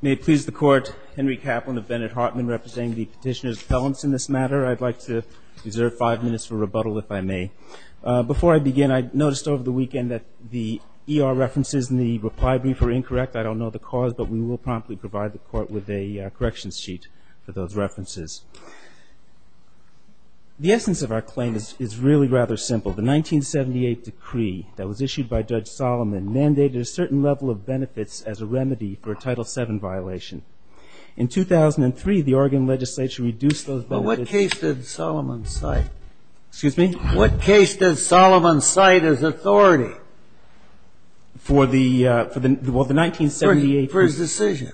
May it please the Court, Henry Kaplan of Bennett-Hartman representing the petitioner's felons in this matter. I'd like to reserve five minutes for rebuttal if I may. Before I begin, I noticed over the weekend that the ER references in the reply brief were incorrect. I don't know the cause, but we will promptly provide the Court with a corrections sheet for those references. The essence of our claim is really rather simple. The 1978 decree that was issued by Judge Solomon mandated a certain level of benefits as a remedy for a Title VII violation. In 2003, the Oregon legislature reduced those benefits. But what case did Solomon cite? Excuse me? What case did Solomon cite as authority? For the 1978? For his decision.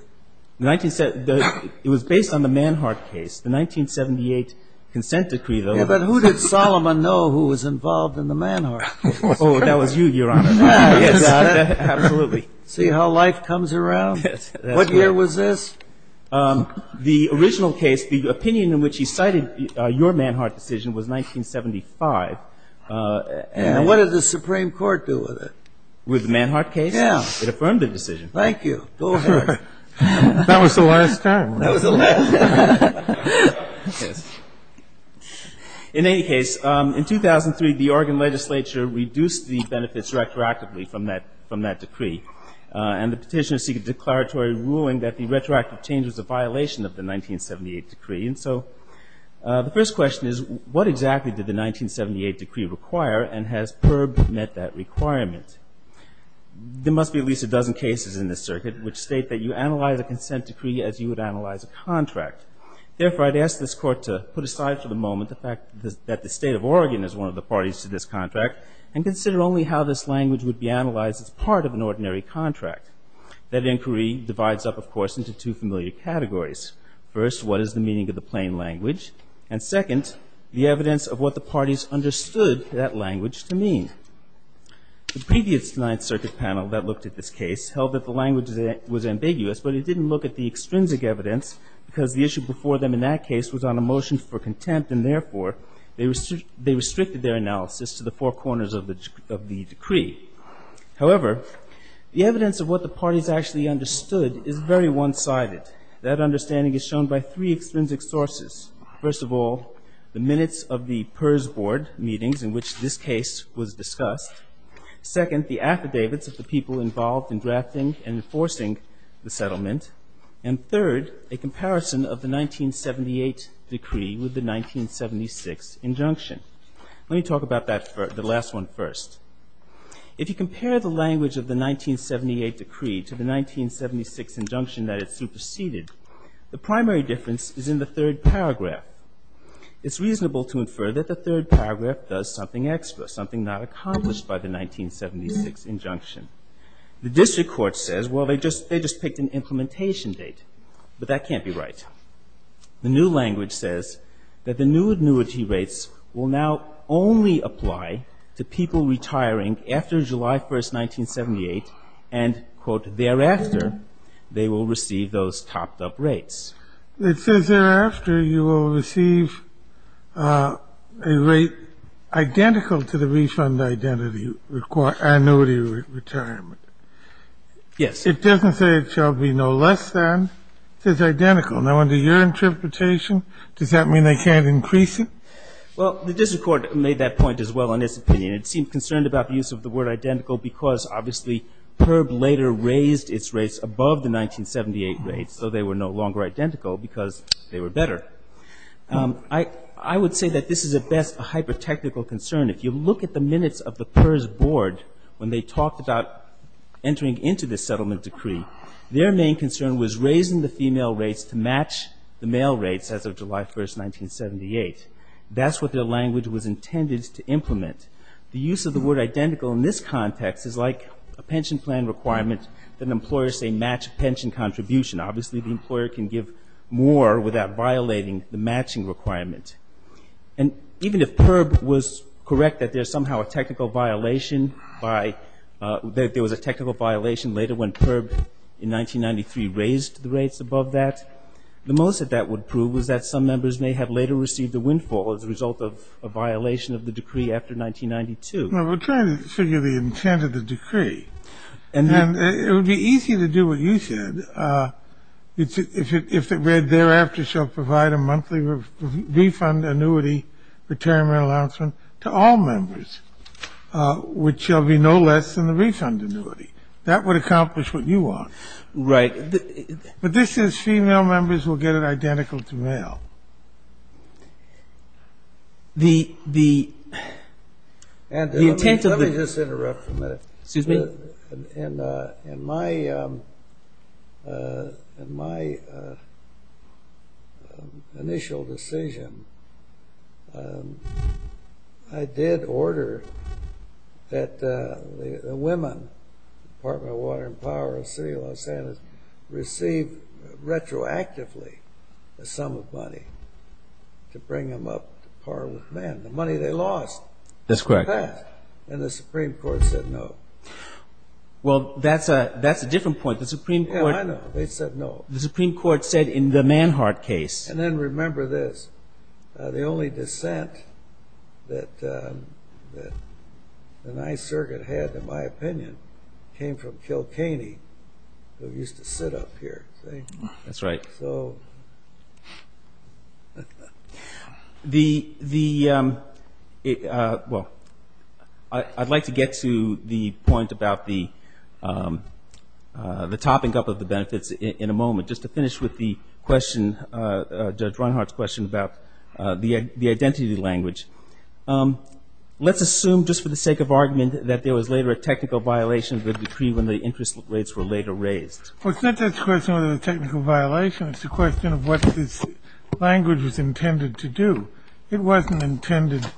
It was based on the Manhart case. The 1978 consent decree, though. Yeah, but who did Solomon know who was involved in the Manhart case? Oh, that was you, Your Honor. See how life comes around? What year was this? The original case, the opinion in which he cited your Manhart decision was 1975. And what did the Supreme Court do with it? With the Manhart case? Yeah. It affirmed the decision. Thank you. Go ahead. That was the last time. That was the last time. In any case, in 2003, the Oregon legislature reduced the benefits retroactively from that decree. And the petitioners seek a declaratory ruling that the retroactive change was a violation of the 1978 decree. And so the first question is, what exactly did the 1978 decree require, and has PERB met that requirement? There must be at least a dozen cases in this circuit which state that you analyze a consent decree as you would analyze a contract. Therefore, I'd ask this Court to put aside for the moment the fact that the state of Oregon is one of the parties to this contract and consider only how this language would be analyzed as part of an ordinary contract. That inquiry divides up, of course, into two familiar categories. First, what is the meaning of the plain language? And second, the evidence of what the parties understood that language to mean. The previous Ninth Circuit panel that looked at this case held that the language was ambiguous, but it didn't look at the extrinsic evidence because the issue before them in that case was on a motion for contempt, and therefore they restricted their analysis to the four corners of the decree. However, the evidence of what the parties actually understood is very one-sided. That understanding is shown by three extrinsic sources. First of all, the minutes of the PERS board meetings in which this case was discussed. Second, the affidavits of the people involved in drafting and enforcing the settlement. And third, a comparison of the 1978 decree with the 1976 injunction. Let me talk about that, the last one first. If you compare the language of the 1978 decree to the 1976 injunction that it superseded, the primary difference is in the third paragraph. It's reasonable to infer that the third paragraph does something extra, something not accomplished by the 1976 injunction. The district court says, well, they just picked an implementation date, but that can't be right. The new language says that the new annuity rates will now only apply to people retiring after July 1, 1978, and, quote, thereafter, they will receive those topped-up rates. It says thereafter you will receive a rate identical to the refund identity annuity retirement. Yes. It doesn't say it shall be no less than. It says identical. Now, under your interpretation, does that mean they can't increase it? Well, the district court made that point as well in its opinion. It seemed concerned about the use of the word identical because, obviously, PIRB later raised its rates above the 1978 rates, so they were no longer identical because they were better. I would say that this is at best a hyper-technical concern. If you look at the minutes of the PIRS board when they talked about entering into this settlement decree, their main concern was raising the female rates to match the male rates as of July 1, 1978. That's what their language was intended to implement. The use of the word identical in this context is like a pension plan requirement that an employer say match pension contribution. Obviously, the employer can give more without violating the matching requirement. And even if PIRB was correct that there was a technical violation later when PIRB in 1993 raised the rates above that, the most that that would prove was that some members may have later received a windfall as a result of a violation of the decree after 1992. Well, we're trying to figure the intent of the decree. And it would be easy to do what you said. If it read, thereafter shall provide a monthly refund annuity, retirement allowance to all members, which shall be no less than the refund annuity. That would accomplish what you want. Right. But this is female members will get it identical to male. The intent of the- Let me just interrupt for a minute. Excuse me? In my initial decision, I did order that the women, Department of Water and Power of the City of Los Angeles, receive retroactively a sum of money to bring them up to par with men. The money they lost. That's correct. And the Supreme Court said no. Well, that's a different point. The Supreme Court- Yeah, I know. They said no. The Supreme Court said in the Manhart case- And then remember this. The only dissent that the Ninth Circuit had, in my opinion, came from Kilkenny, who used to sit up here. That's right. So the-well, I'd like to get to the point about the topping up of the benefits in a moment. Just to finish with the question, Judge Runhart's question about the identity language. Let's assume, just for the sake of argument, that there was later a technical violation of the decree when the interest rates were later raised. Well, it's not just a question of a technical violation. It's a question of what this language was intended to do. It wasn't intended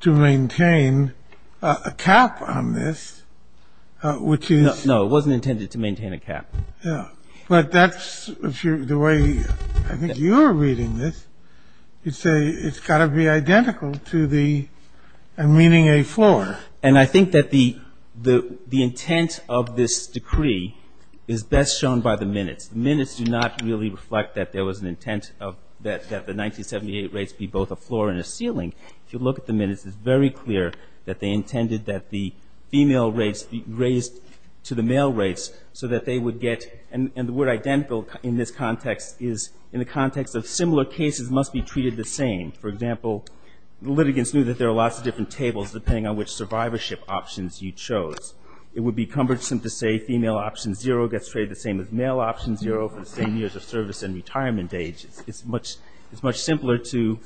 to maintain a cap on this, which is- No, it wasn't intended to maintain a cap. Yeah. But that's the way I think you're reading this. You say it's got to be identical to the-and meaning a floor. And I think that the intent of this decree is best shown by the minutes. The minutes do not really reflect that there was an intent that the 1978 rates be both a floor and a ceiling. If you look at the minutes, it's very clear that they intended that the female rates be raised to the male rates so that they would get-and the word identical in this context is in the context of similar cases must be treated the same. For example, the litigants knew that there are lots of different tables depending on which survivorship options you chose. It would be cumbersome to say female option zero gets traded the same as male option zero for the same years of service and retirement age. It's much simpler to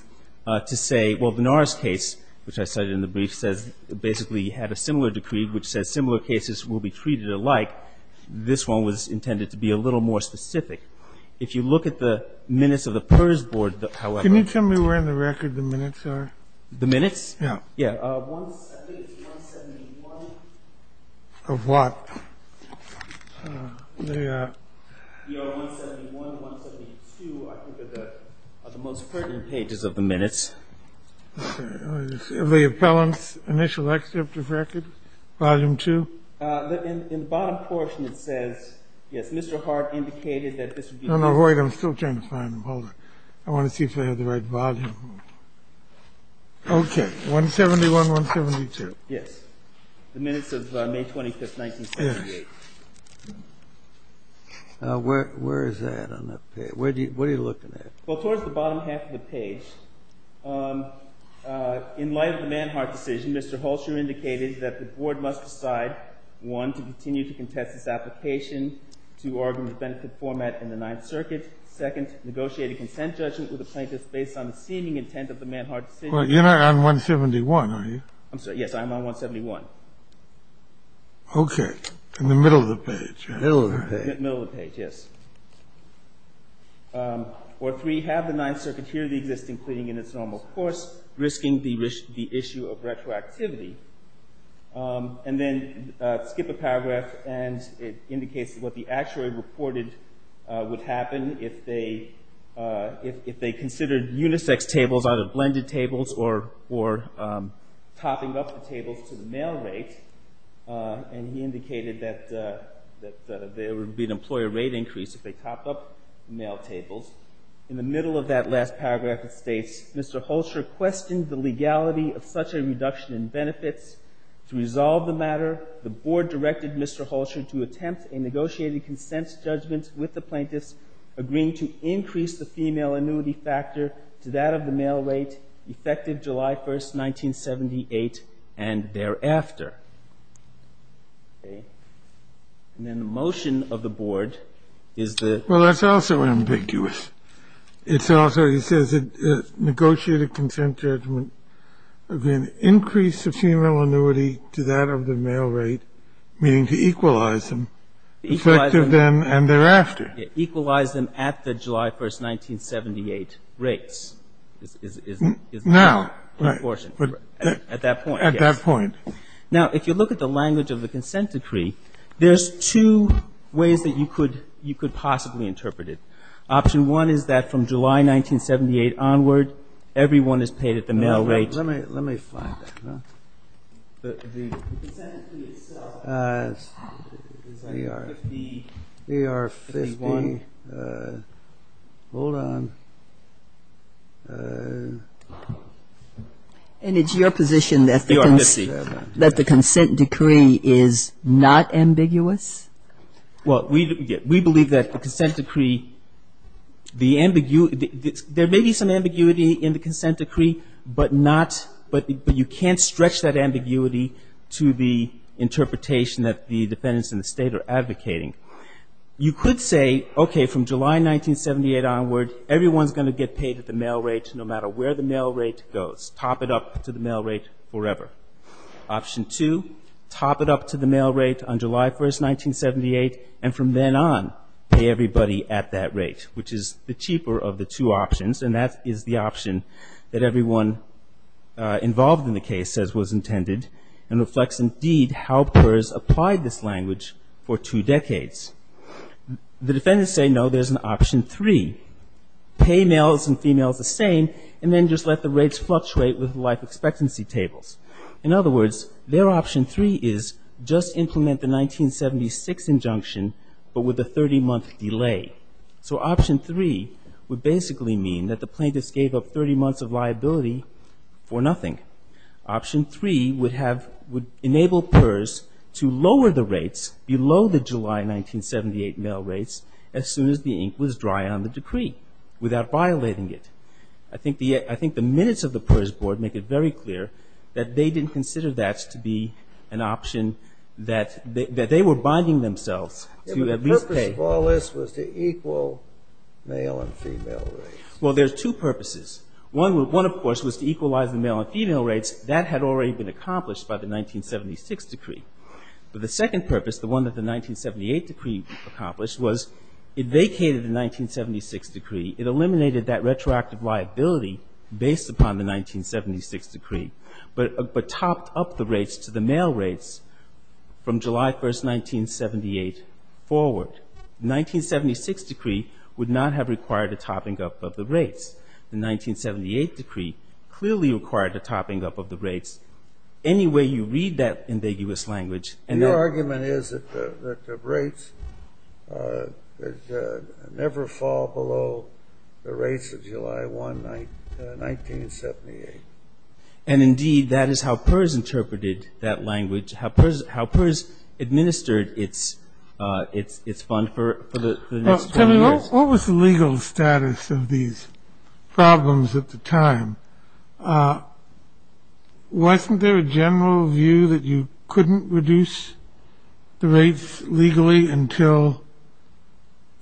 say, well, the Norris case, which I cited in the brief, says-basically had a similar decree which says similar cases will be treated alike. This one was intended to be a little more specific. If you look at the minutes of the PERS board, however- The minutes? Yeah. I think it's 171. Of what? 171, 172, I think are the most pertinent pages of the minutes. Okay. The appellant's initial excerpt of record, volume two? In the bottom portion, it says, yes, Mr. Hart indicated that this would be- Wait, I'm still trying to find them. Hold on. I want to see if I have the right volume. 171, 172. Yes. The minutes of May 25, 1978. Where is that on that page? What are you looking at? Well, towards the bottom half of the page, in light of the Manhart decision, Mr. Hulsher indicated that the board must decide, one, to continue to contest this application to Oregon's benefit format in the Ninth Circuit. Second, negotiate a consent judgment with the plaintiffs based on the seeming intent of the Manhart decision. You're not on 171, are you? I'm sorry. Yes, I'm on 171. Okay. In the middle of the page. Middle of the page. Middle of the page, yes. Or three, have the Ninth Circuit hear the existing cleaning in its normal course, risking the issue of retroactivity. And then skip a paragraph and it indicates what the actuary reported would happen if they considered unisex tables out of blended tables or topping up the tables to the mail rate. And he indicated that there would be an employer rate increase if they topped up the mail tables. In the middle of that last paragraph, it states, Mr. Hulsher questioned the legality of such a reduction in benefits. To resolve the matter, the board directed Mr. Hulsher to attempt a negotiated consent judgment with the plaintiffs, agreeing to increase the female annuity factor to that of the mail rate, effective July 1, 1978, and thereafter. Okay. And then the motion of the board is the ---- It's also, he says, negotiated consent judgment of an increase of female annuity to that of the mail rate, meaning to equalize them. Equalize them. Effective then and thereafter. Equalize them at the July 1, 1978 rates. Now. At that point. At that point. Now, if you look at the language of the consent decree, there's two ways that you could possibly interpret it. Option one is that from July 1978 onward, everyone is paid at the mail rate. Let me find that. The consent decree itself is under 50. They are 51. Hold on. And it's your position that the consent decree is not ambiguous? Well, we believe that the consent decree, the ambiguity, there may be some ambiguity in the consent decree, but not, but you can't stretch that ambiguity to the interpretation that the defendants in the State are advocating. You could say, okay, from July 1978 onward, everyone is going to get paid at the mail rate, no matter where the mail rate goes. Top it up to the mail rate forever. Option two, top it up to the mail rate on July 1, 1978, and from then on, pay everybody at that rate, which is the cheaper of the two options, and that is the option that everyone involved in the case says was intended, and reflects indeed how PERS applied this language for two decades. The defendants say, no, there's an option three. Pay males and females the same, and then just let the rates fluctuate with life expectancy tables. In other words, their option three is just implement the 1976 injunction, but with a 30-month delay. So option three would basically mean that the plaintiffs gave up 30 months of liability for nothing. Option three would have, would enable PERS to lower the rates below the July 1978 mail rates as soon as the ink was dry on the decree, without violating it. I think the minutes of the PERS board make it very clear that they didn't consider that to be an option that they were binding themselves to at least pay. But the purpose of all this was to equal male and female rates. Well, there's two purposes. One, of course, was to equalize the male and female rates. That had already been accomplished by the 1976 decree. But the second purpose, the one that the 1978 decree accomplished, was it vacated the 1976 decree. It eliminated that retroactive liability based upon the 1976 decree, but topped up the rates to the male rates from July 1, 1978 forward. The 1976 decree would not have required a topping up of the rates. The 1978 decree clearly required a topping up of the rates. Any way you read that ambiguous language, and that- The rates of July 1, 1978. And indeed, that is how PERS interpreted that language, how PERS administered its fund for the next 12 years. Now, tell me, what was the legal status of these problems at the time? Wasn't there a general view that you couldn't reduce the rates legally until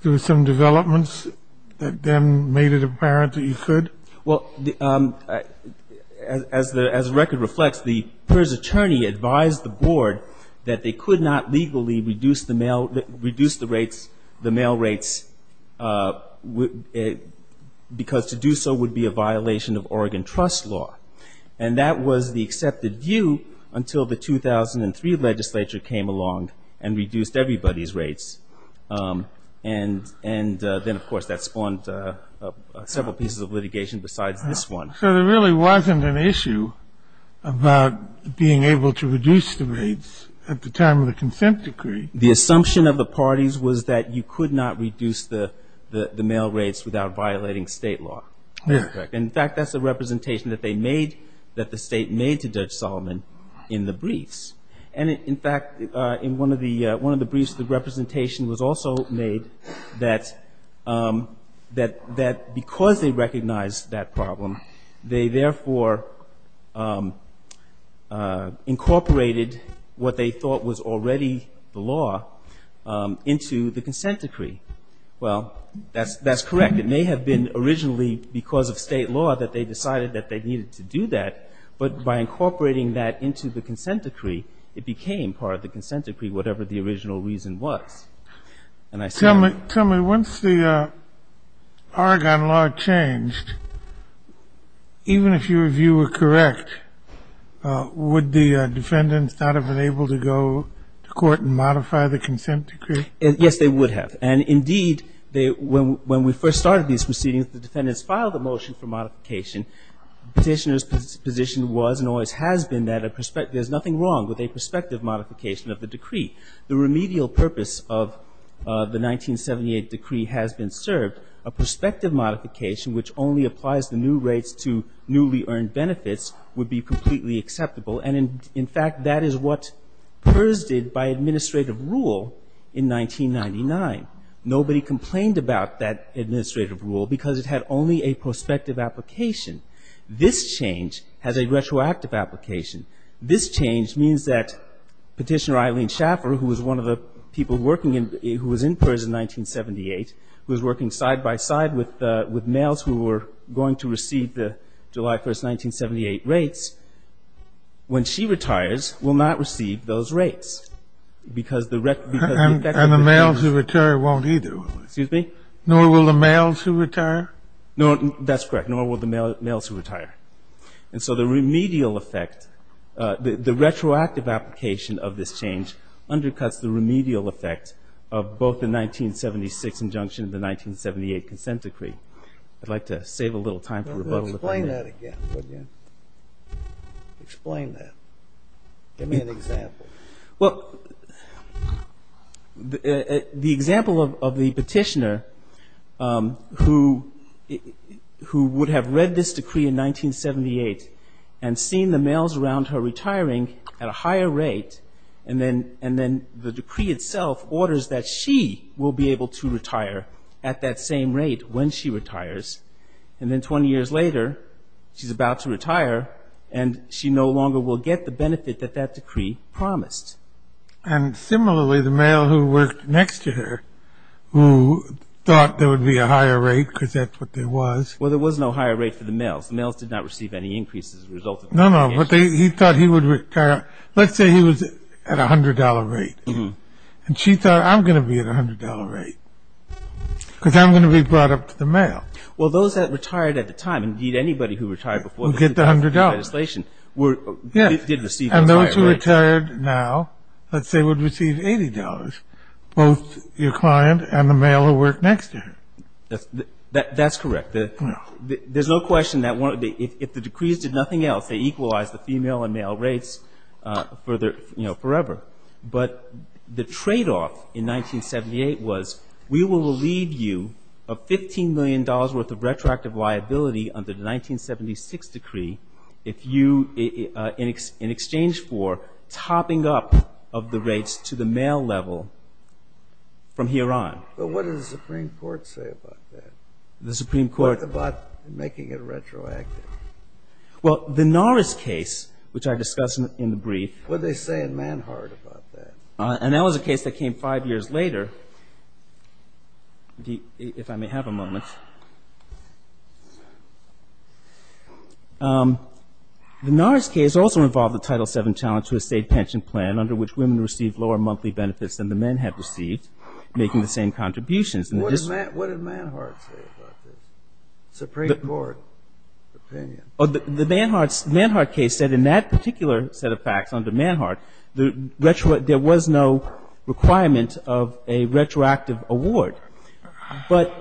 there were some developments that then made it apparent that you could? Well, as the record reflects, the PERS attorney advised the board that they could not legally reduce the rates, the male rates, because to do so would be a violation of Oregon trust law. And that was the accepted view until the 2003 legislature came along and reduced everybody's rates. And then, of course, that spawned several pieces of litigation besides this one. So there really wasn't an issue about being able to reduce the rates at the time of the consent decree? The assumption of the parties was that you could not reduce the male rates without violating state law. Yes. In fact, that's a representation that they made, that the state made to Judge Solomon in the briefs. And, in fact, in one of the briefs, the representation was also made that because they recognized that problem, they therefore incorporated what they thought was already the law into the consent decree. Well, that's correct. It may have been originally because of state law that they decided that they needed to do that, but by incorporating that into the consent decree, it became part of the consent decree, whatever the original reason was. And I said that. Tell me, once the Oregon law changed, even if your view were correct, would the defendants not have been able to go to court and modify the consent decree? Yes, they would have. And, indeed, when we first started these proceedings, the defendants filed a motion for modification. Petitioner's position was and always has been that there's nothing wrong with a prospective modification of the decree. The remedial purpose of the 1978 decree has been served. A prospective modification, which only applies the new rates to newly earned benefits, would be completely acceptable. And, in fact, that is what PERS did by administrative rule in 1999. Nobody complained about that administrative rule because it had only a prospective application. This change has a retroactive application. This change means that Petitioner Eileen Schaffer, who was one of the people working in, who was in PERS in 1978, who was working side-by-side with males who were going to receive the July 1, 1978, rates, when she retires, will not receive those rates. And the males who retire won't either, will they? Excuse me? Nor will the males who retire? That's correct. Nor will the males who retire. And so the remedial effect, the retroactive application of this change undercuts the remedial effect of both the 1976 injunction and the 1978 consent decree. I'd like to save a little time for rebuttal. Explain that again, would you? Explain that. Give me an example. Well, the example of the petitioner who would have read this decree in 1978 and seen the males around her retiring at a higher rate, and then the decree itself orders that she will be able to retire at that same rate when she retires. And then 20 years later, she's about to retire, and she no longer will get the And similarly, the male who worked next to her, who thought there would be a higher rate because that's what there was. Well, there was no higher rate for the males. The males did not receive any increases as a result of it. No, no, but he thought he would retire. Let's say he was at a $100 rate, and she thought, I'm going to be at a $100 rate because I'm going to be brought up to the male. Well, those that retired at the time, indeed anybody who retired before the now, let's say, would receive $80, both your client and the male who worked next to her. That's correct. There's no question that if the decrees did nothing else, they equalized the female and male rates forever. But the tradeoff in 1978 was we will leave you a $15 million worth of retroactive liability under the 1976 decree if you, in exchange for topping up of the rates to the male level from here on. But what did the Supreme Court say about that? The Supreme Court. What about making it retroactive? Well, the Norris case, which I discussed in the brief. What did they say in Manhart about that? And that was a case that came five years later, if I may have a moment. The Norris case also involved the Title VII challenge to a state pension plan, under which women received lower monthly benefits than the men had received, making the same contributions. What did Manhart say about this? Supreme Court opinion. The Manhart case said in that particular set of facts under Manhart, there was no requirement of a retroactive award. Well,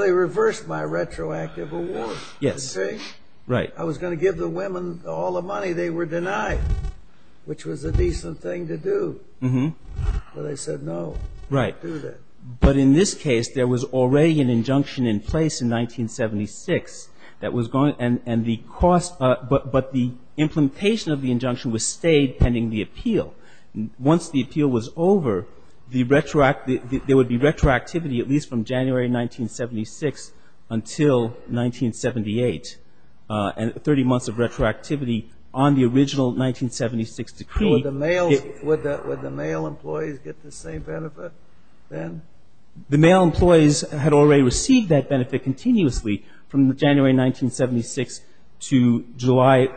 they reversed my retroactive award. Yes. See? Right. I was going to give the women all the money they were denied, which was a decent thing to do. But they said, no, don't do that. But in this case, there was already an injunction in place in 1976 that was going to end the cost. But the implementation of the injunction was stayed pending the appeal. Once the appeal was over, there would be retroactivity at least from January 1976 until 1978, and 30 months of retroactivity on the original 1976 decree. Would the male employees get the same benefit then? The male employees had already received that benefit continuously from January 1976 to July of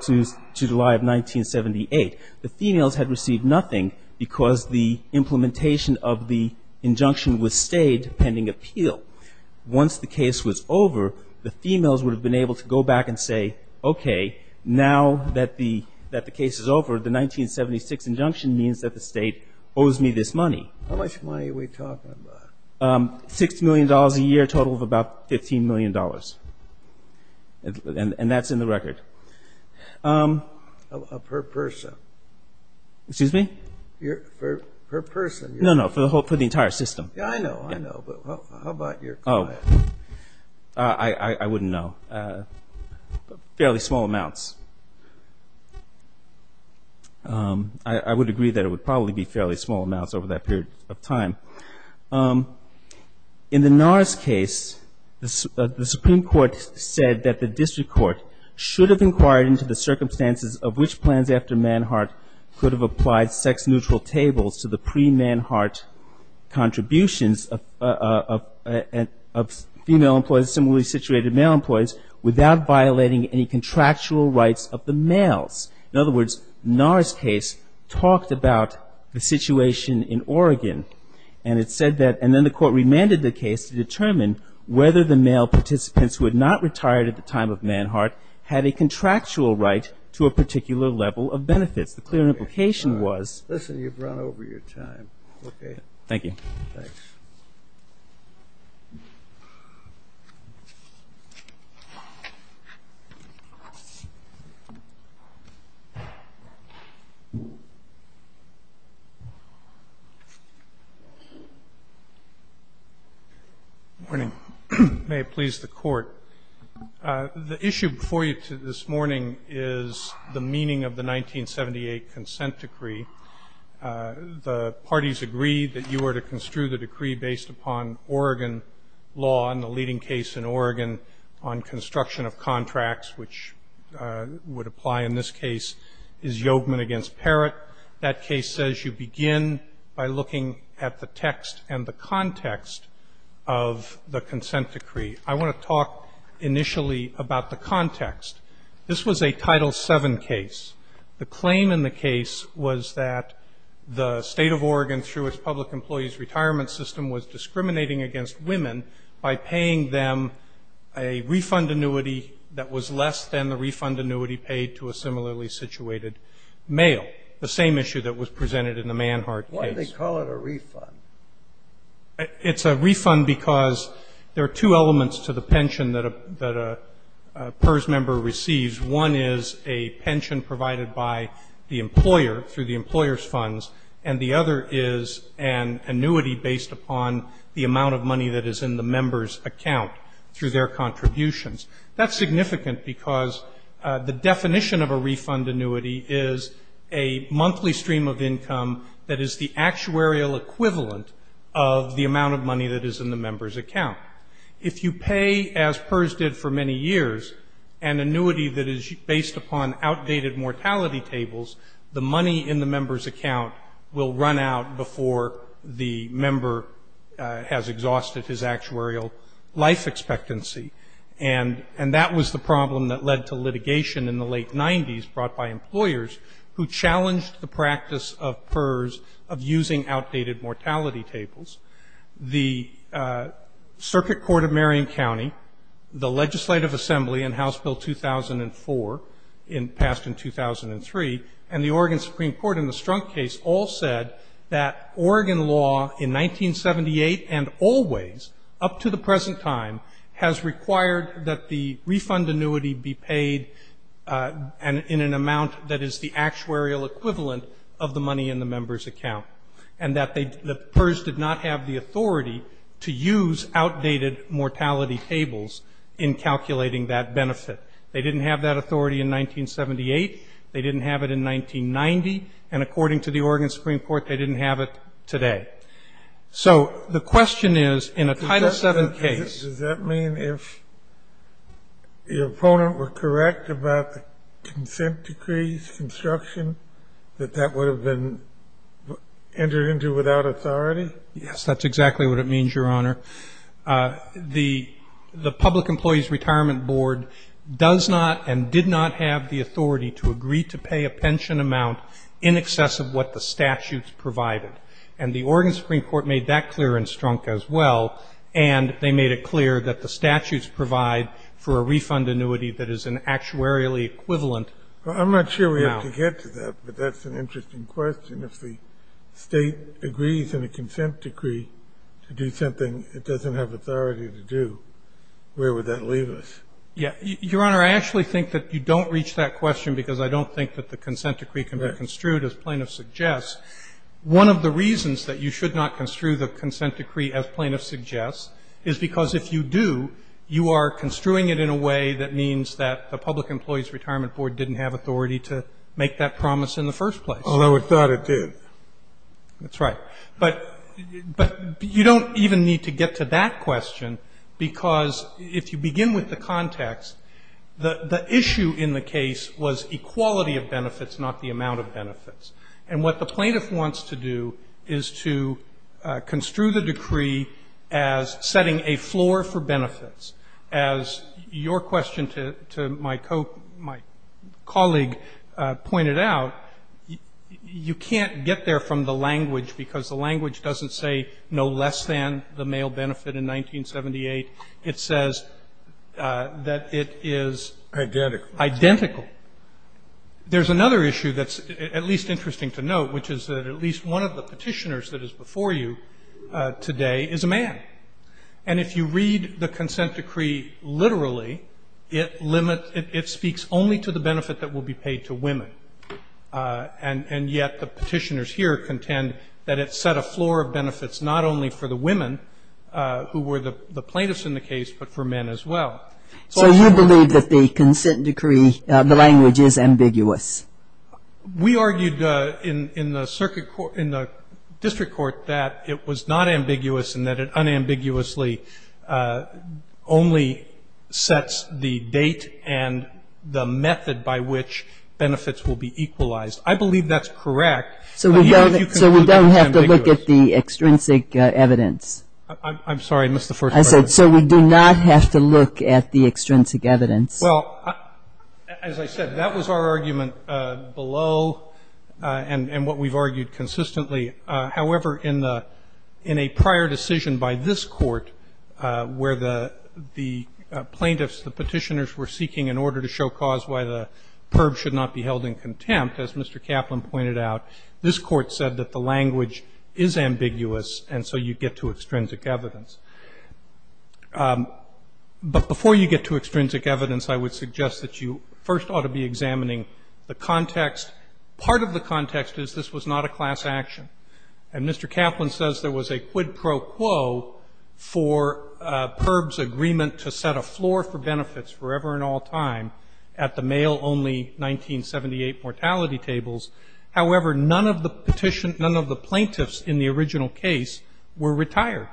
1978. The females had received nothing because the implementation of the injunction was stayed pending appeal. Once the case was over, the females would have been able to go back and say, okay, now that the case is over, the 1976 injunction means that the state owes me this money. How much money are we talking about? $6 million a year, total of about $15 million. And that's in the record. Per person. Excuse me? Per person. No, no, for the entire system. I know, I know. But how about your client? I wouldn't know. Fairly small amounts. I would agree that it would probably be fairly small amounts over that period of time. In the NARS case, the Supreme Court said that the district court should have inquired into the circumstances of which plans after Manhart could have applied sex-neutral tables to the pre-Manhart contributions of female employees and similarly situated male employees without violating any contractual rights of the males. In other words, NARS case talked about the situation in Oregon, and it said that, and then the court remanded the case to determine whether the male participants who had not retired at the time of Manhart had a contractual right to a particular level of benefits. The clear implication was. Listen, you've run over your time. Okay. Thank you. Thanks. Good morning. May it please the Court. The issue before you this morning is the meaning of the 1978 consent decree. The parties agreed that you were to construe the decree based upon Oregon law, and the leading case in Oregon on construction of contracts, which would apply in this case is Yogeman v. Parrott. That case says you begin by looking at the text and the context of the consent decree. I want to talk initially about the context. This was a Title VII case. The claim in the case was that the State of Oregon, through its public employees retirement system, was discriminating against women by paying them a refund annuity that was less than the refund annuity paid to a similarly situated male, the same issue that was presented in the Manhart case. Why did they call it a refund? It's a refund because there are two elements to the pension that a PERS member receives. One is a pension provided by the employer through the employer's funds, and the other is an annuity based upon the amount of money that is in the member's account through their contributions. That's significant because the definition of a refund annuity is a monthly stream of income that is the actuarial equivalent of the amount of money that is in the member's account. If you pay, as PERS did for many years, an annuity that is based upon outdated mortality tables, the money in the member's account will run out before the member has exhausted his actuarial life expectancy. And that was the problem that led to litigation in the late 90s brought by employers who challenged the practice of PERS of using outdated mortality tables. The Circuit Court of Marion County, the Legislative Assembly and House Bill 2004 passed in 2003, and the Oregon Supreme Court in the Strunk case all said that Oregon law in 1978 and always up to the present time has required that the refund annuity be paid in an amount that is the actuarial equivalent of the money in the member's account, and that the PERS did not have the authority to use outdated mortality tables in calculating that benefit. They didn't have that authority in 1978. They didn't have it in 1990. And according to the Oregon Supreme Court, they didn't have it today. So the question is in a Title VII case. Does that mean if the opponent were correct about the consent decrees, construction, that that would have been entered into without authority? Yes, that's exactly what it means, Your Honor. The Public Employees Retirement Board does not and did not have the authority to agree to pay a pension amount in excess of what the statutes provided, and the Oregon Supreme Court made that clear in Strunk as well, and they made it clear that the statutes provide for a refund annuity that is an actuarially equivalent amount. I'm not sure we have to get to that, but that's an interesting question. If the State agrees in a consent decree to do something it doesn't have authority to do, where would that leave us? Yeah. Your Honor, I actually think that you don't reach that question because I don't think that the consent decree can be construed as plaintiff suggests. One of the reasons that you should not construe the consent decree as plaintiff suggests is because if you do, you are construing it in a way that means that the Public Employees Retirement Board didn't have authority to make that promise in the first place. Although it thought it did. That's right. But you don't even need to get to that question because if you begin with the context, the issue in the case was equality of benefits, not the amount of benefits. And what the plaintiff wants to do is to construe the decree as setting a floor for benefits. As your question to my colleague pointed out, you can't get there from the language because the language doesn't say no less than the male benefit in 1978. It says that it is identical. There's another issue that's at least interesting to note, which is that at least one of the petitioners that is before you today is a man. And if you read the consent decree literally, it speaks only to the benefit that will be paid to women. And yet the petitioners here contend that it set a floor of benefits not only for the women who were the plaintiffs in the case, but for men as well. So you believe that the consent decree, the language, is ambiguous? We argued in the district court that it was not ambiguous and that it unambiguously only sets the date and the method by which benefits will be equalized. I believe that's correct. So we don't have to look at the extrinsic evidence? I'm sorry. I missed the first part. I said so we do not have to look at the extrinsic evidence. Well, as I said, that was our argument below and what we've argued consistently. However, in a prior decision by this court where the plaintiffs, the petitioners, were seeking an order to show cause why the perp should not be held in contempt, as Mr. Kaplan pointed out, this court said that the language is ambiguous and so you get to extrinsic evidence. But before you get to extrinsic evidence, I would suggest that you first ought to be examining the context. Part of the context is this was not a class action. And Mr. Kaplan says there was a quid pro quo for perp's agreement to set a floor for benefits forever and all time at the male-only 1978 mortality tables. However, none of the plaintiffs in the original case were retired.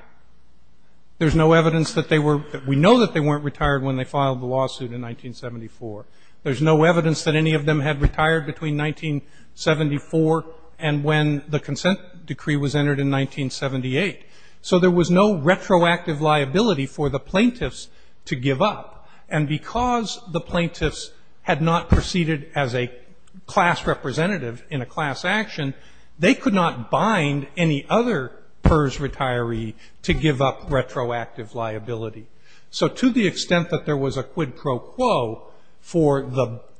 There's no evidence that they were we know that they weren't retired when they filed the lawsuit in 1974. There's no evidence that any of them had retired between 1974 and when the consent decree was entered in 1978. So there was no retroactive liability for the plaintiffs to give up. And because the plaintiffs had not proceeded as a class representative in a class action, they could not bind any other PERS retiree to give up retroactive liability. So to the extent that there was a quid pro quo for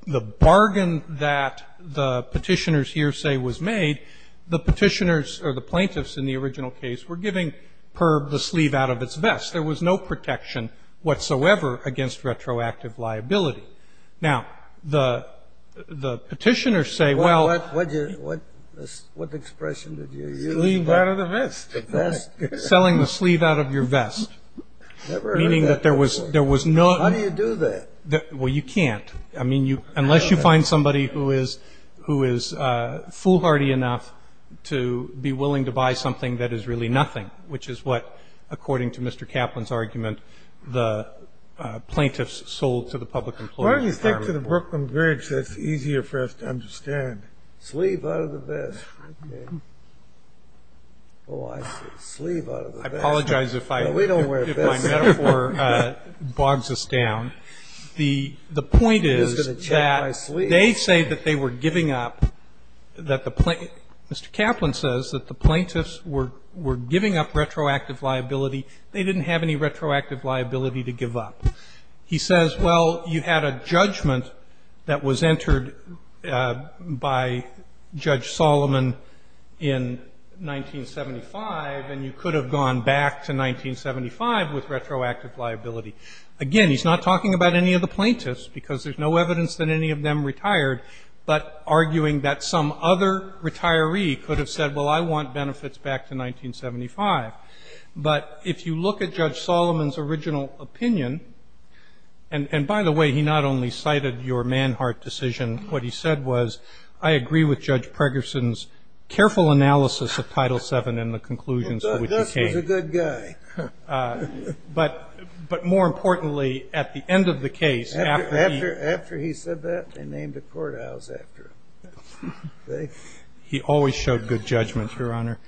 the bargain that the petitioners' hearsay was made, the petitioners or the plaintiffs in the original case were giving perp the sleeve out of its vest. There was no protection whatsoever against retroactive liability. Now, the petitioners say, well. Scalia, what expression did you use? Sleeve out of the vest. Vest. Selling the sleeve out of your vest. Never heard that before. Meaning that there was none. How do you do that? Well, you can't. I mean, unless you find somebody who is foolhardy enough to be willing to buy something that is really nothing, which is what, according to Mr. Kaplan's argument, the plaintiffs sold to the public employer. Why don't you stick to the Brooklyn Bridge? That's easier for us to understand. Sleeve out of the vest. Oh, I see. Sleeve out of the vest. I apologize if my metaphor bogs us down. The point is that they say that they were giving up, that the plaintiffs were giving up retroactive liability. They didn't have any retroactive liability to give up. He says, well, you had a judgment that was entered by Judge Solomon in 1975, and you could have gone back to 1975 with retroactive liability. Again, he's not talking about any of the plaintiffs, because there's no evidence that any of them retired, but arguing that some other retiree could have said, well, I want benefits back to 1975. But if you look at Judge Solomon's original opinion, and by the way, he not only cited your Manhart decision. What he said was, I agree with Judge Pregerson's careful analysis of Title VII and the conclusions for which he came. This was a good guy. He always showed good judgment, Your Honor.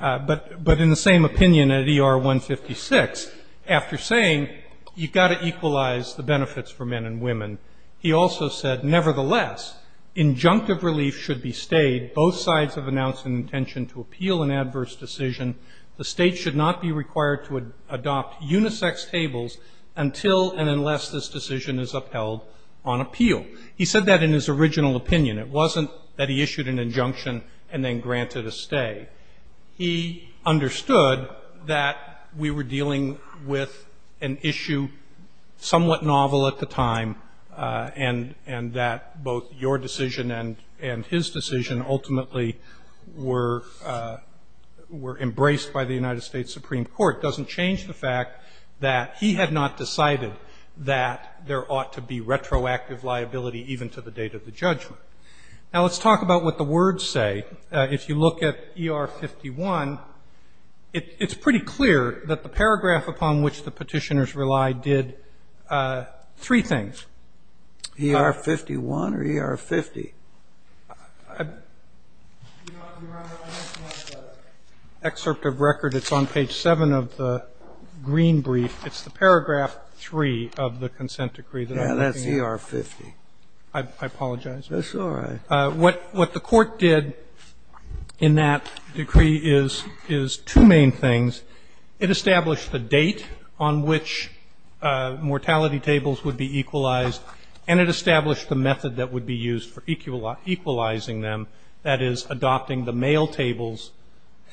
But in the same opinion at ER 156, after saying you've got to equalize the benefits for men and women, he also said, nevertheless, injunctive relief should be stayed. Both sides have announced an intention to appeal an adverse decision. The State should not be required to adopt unisex tables until and unless this decision is upheld on appeal. He said that in his original opinion. It wasn't that he issued an injunction and then granted a stay. He understood that we were dealing with an issue somewhat novel at the time, and that both your decision and his decision ultimately were embraced by the United States Supreme Court. Now, let's talk about what the words say. If you look at ER 51, it's pretty clear that the paragraph upon which the Petitioners relied did three things. E-R 51 or E-R 50? You know, Your Honor, I don't have the excerpt of record. It's on page 7 of the green brief. It's the paragraph 3 of the consent decree. That's E-R 50. I apologize. That's all right. What the Court did in that decree is two main things. It established the date on which mortality tables would be equalized, and it established the method that would be used for equalizing them, that is, adopting the male tables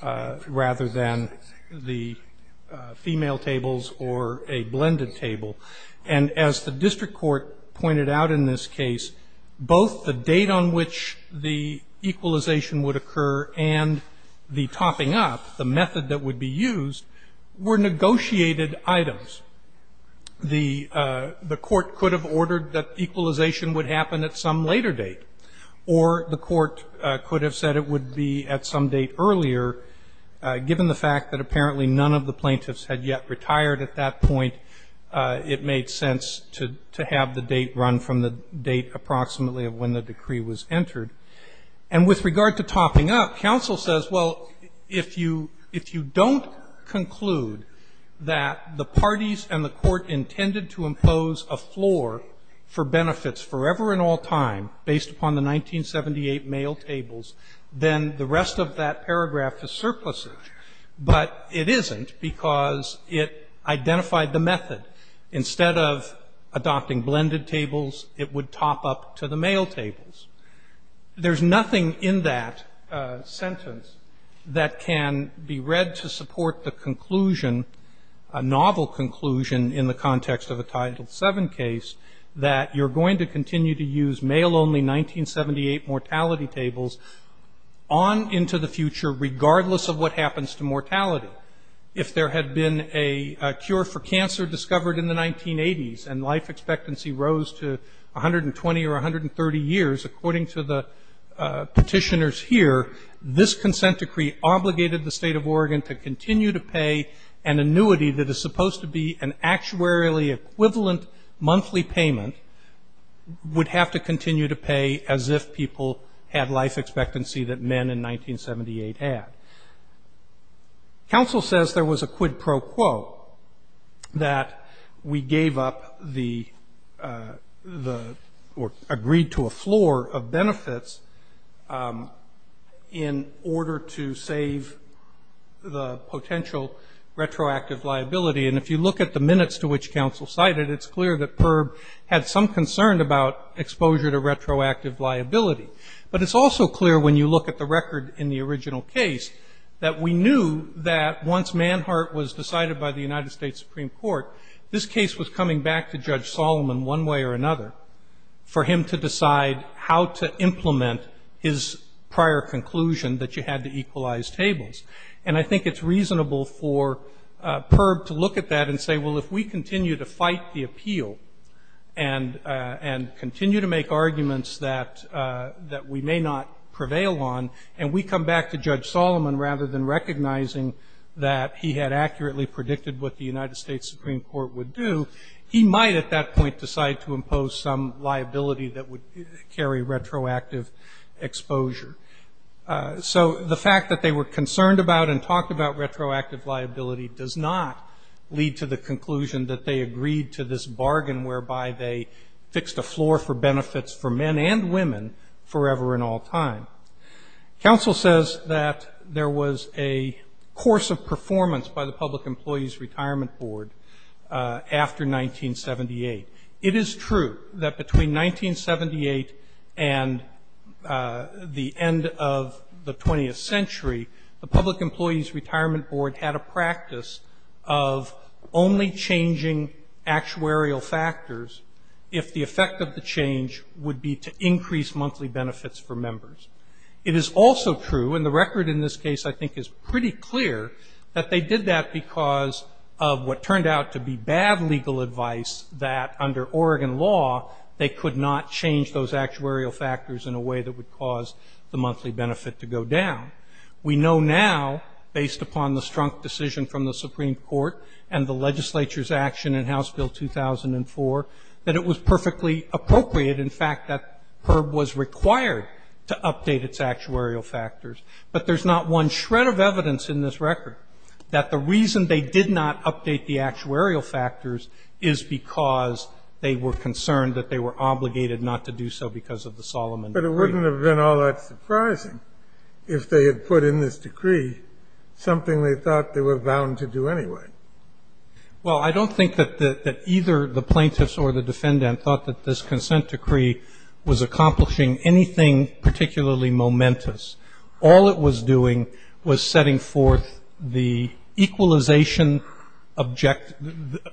rather than the female tables or a blended table. And as the district court pointed out in this case, both the date on which the equalization would occur and the topping up, the method that would be used, were negotiated items. The court could have ordered that equalization would happen at some later date, or the court could have said it would be at some date earlier, given the fact that apparently none of the plaintiffs had yet retired at that point. It made sense to have the date run from the date approximately of when the decree was entered. And with regard to topping up, counsel says, well, if you don't conclude that the parties and the court intended to impose a floor for benefits forever and all time based upon the 1978 male tables, then the rest of that paragraph is surplusage. But it isn't because it identified the method. Instead of adopting blended tables, it would top up to the male tables. There's nothing in that sentence that can be read to support the conclusion, a novel conclusion in the context of a Title VII case, that you're going to continue to use male-only 1978 mortality tables on into the future regardless of what happens to mortality. If there had been a cure for cancer discovered in the 1980s and life expectancy rose to 120 or 130 years, according to the petitioners here, this consent decree obligated the State of Oregon to continue to pay an annuity that is supposed to be an annuity. You have to continue to pay as if people had life expectancy that men in 1978 had. Counsel says there was a quid pro quo that we gave up the or agreed to a floor of benefits in order to save the potential retroactive liability. And if you look at the minutes to which counsel cited, it's clear that PERB had some concern about exposure to retroactive liability. But it's also clear when you look at the record in the original case that we knew that once Manhart was decided by the United States Supreme Court, this case was coming back to Judge Solomon one way or another for him to decide how to implement his prior conclusion that you had to equalize tables. And I think it's reasonable for PERB to look at that and say, well, if we continue to fight the appeal and continue to make arguments that we may not prevail on and we come back to Judge Solomon rather than recognizing that he had accurately predicted what the United States Supreme Court would do, he might at that point decide to impose some liability that would carry retroactive exposure. So the fact that they were concerned about and talked about retroactive liability does not lead to the conclusion that they agreed to this bargain whereby they fixed a floor for benefits for men and women forever and all time. Counsel says that there was a course of performance by the Public Employees Retirement Board after 1978. It is true that between 1978 and the end of the 20th century, the Public Employees Retirement Board had a practice of only changing actuarial factors if the effect of the change would be to increase monthly benefits for members. It is also true, and the record in this case I think is pretty clear, that they did that because of what turned out to be bad legal advice that under Oregon law they could not change those actuarial factors in a way that would cause the monthly benefit to go down. We know now, based upon the strunk decision from the Supreme Court and the legislature's action in House Bill 2004, that it was perfectly appropriate, in fact, that HERB was required to update its actuarial factors. But there's not one shred of evidence in this record that the reason they did not update the actuarial factors is because they were concerned that they were obligated not to do so because of the Solomon Decree. But it wouldn't have been all that surprising if they had put in this decree something they thought they were bound to do anyway. Well, I don't think that either the plaintiffs or the defendant thought that this consent decree was accomplishing anything particularly momentous. All it was doing was setting forth the equalization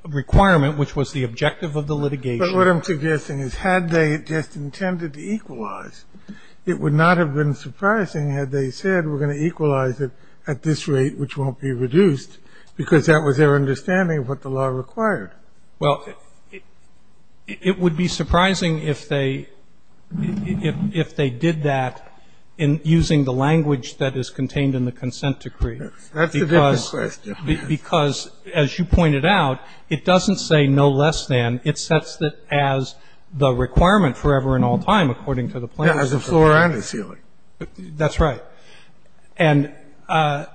requirement, which was the objective of the litigation. But what I'm suggesting is had they just intended to equalize, it would not have been surprising had they said we're going to equalize it at this rate, which won't be reduced, because that was their understanding of what the law required. Well, it would be surprising if they did that in using the language that is contained in the consent decree. That's a different question. Because, as you pointed out, it doesn't say no less than. It sets it as the requirement forever and all time, according to the plaintiffs. As a floor and a ceiling. That's right. And the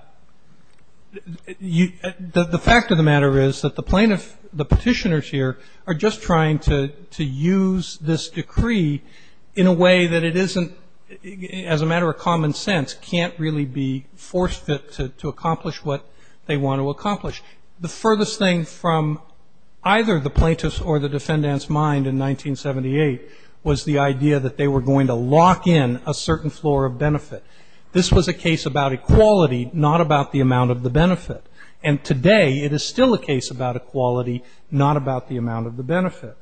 fact of the matter is that the plaintiffs, the Petitioners here, are just trying to use this decree in a way that it isn't, as a matter of common sense, can't really be forced to accomplish what they want to accomplish. The furthest thing from either the plaintiffs or the defendants' mind in 1978 was the idea that they were going to lock in a certain floor of benefit. This was a case about equality, not about the amount of the benefit. And today, it is still a case about equality, not about the amount of the benefit.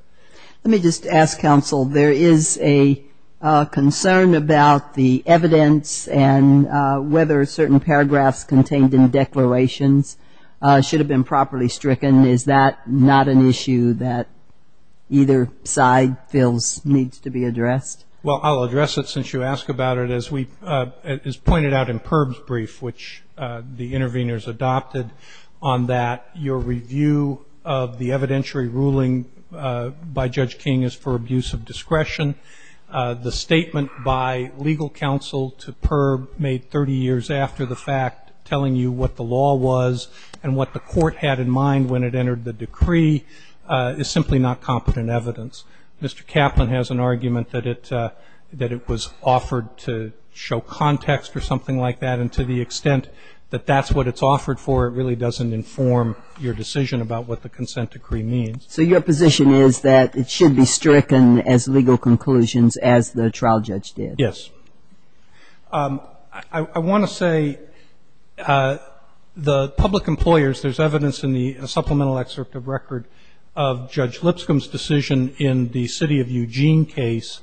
Let me just ask, counsel, there is a concern about the evidence and whether certain paragraphs contained in declarations should have been properly stricken. Is that not an issue that either side feels needs to be addressed? Well, I'll address it since you asked about it. As pointed out in PIRB's brief, which the interveners adopted on that, your review of the evidentiary ruling by Judge King is for abuse of discretion. The statement by legal counsel to PIRB made 30 years after the fact, telling you what the law was and what the court had in mind when it entered the decree, is simply not competent evidence. Mr. Kaplan has an argument that it was offered to show context or something like that, and to the extent that that's what it's offered for, it really doesn't inform your decision about what the consent decree means. So your position is that it should be stricken as legal conclusions as the trial judge did? Yes. I want to say the public employers, there's evidence in the supplemental excerpt of record of Judge Lipscomb's decision in the city of Eugene case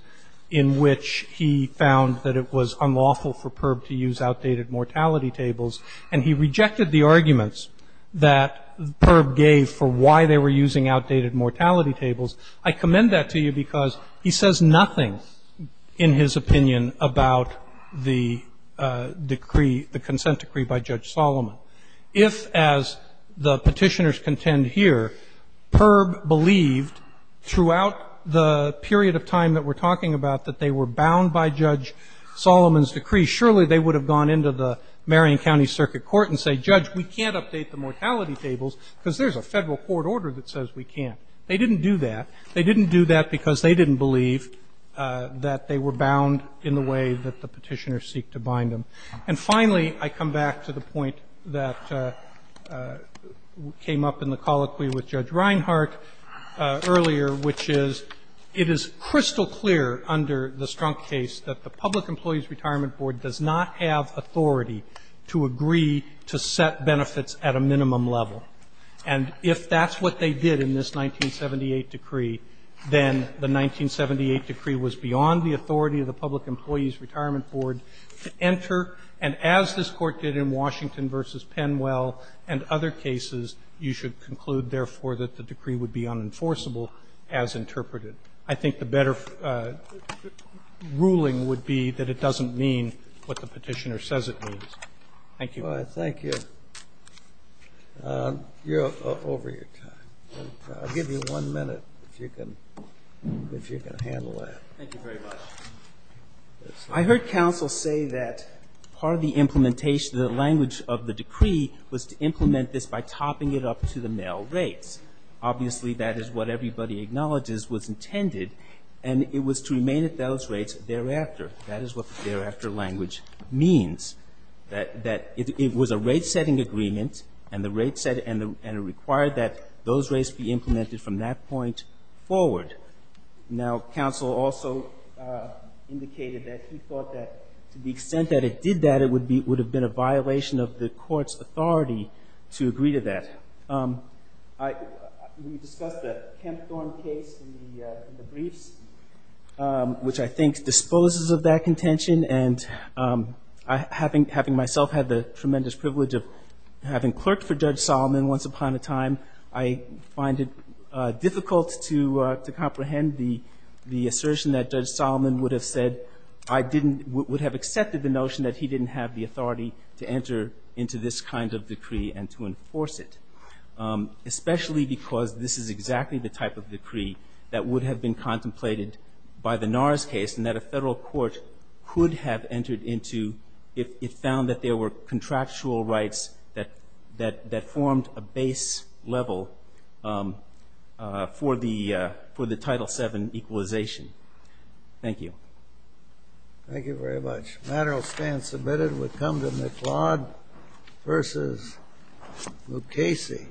in which he found that it was unlawful for PIRB to use outdated mortality tables, and he rejected the arguments that PIRB gave for why they were using outdated mortality tables. I commend that to you because he says nothing in his opinion about the decree, the consent decree by Judge Solomon. If, as the Petitioners contend here, PIRB believed throughout the period of time that we're talking about that they were bound by Judge Solomon's decree, surely they would have gone into the Marion County Circuit Court and said, Judge, we can't update the mortality tables because there's a Federal court order that says we can't. They didn't do that. They didn't do that because they didn't believe that they were bound in the way that the Petitioners seek to bind them. And finally, I come back to the point that came up in the colloquy with Judge Reinhart earlier, which is it is crystal clear under the Strunk case that the Public Employees Retirement Board does not have authority to agree to set benefits at a minimum level, and if that's what they did in this 1978 decree, then the 1978 decree was beyond the authority of the Public Employees Retirement Board to enter. And as this Court did in Washington v. Penwell and other cases, you should conclude, therefore, that the decree would be unenforceable as interpreted. I think the better ruling would be that it doesn't mean what the Petitioner says it means. Thank you. Thank you. You're over your time. I'll give you one minute, if you can handle that. Thank you very much. I heard counsel say that part of the implementation, the language of the decree, was to implement this by topping it up to the male rates. Obviously, that is what everybody acknowledges was intended, and it was to remain at those rates thereafter. That is what the thereafter language means, that it was a rate-setting agreement and the rate set and it required that those rates be implemented from that point forward. Now, counsel also indicated that he thought that to the extent that it did that, it would have been a violation of the Court's authority to agree to that. We discussed the Kempthorne case in the briefs, which I think disposes of that contention, and having myself had the tremendous privilege of having clerked for Judge Solomon once upon a time, I find it difficult to comprehend the assertion that Judge Solomon would have said I didn't, would have accepted the notion that he didn't have the authority to enter into this kind of decree and to enforce it, especially because this is exactly the type of decree that would have been contemplated by the NARS case and that a Federal Court could have entered into if it found that there were contractual rights that formed a base level for the Title VII equalization. Thank you. Thank you very much. The matter will stand submitted. We'll come to McLeod versus Lucchesi.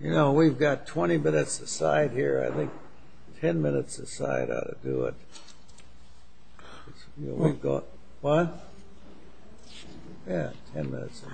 You know, we've got 20 minutes aside here. I think 10 minutes aside ought to do it. What? Yeah, 10 minutes is enough.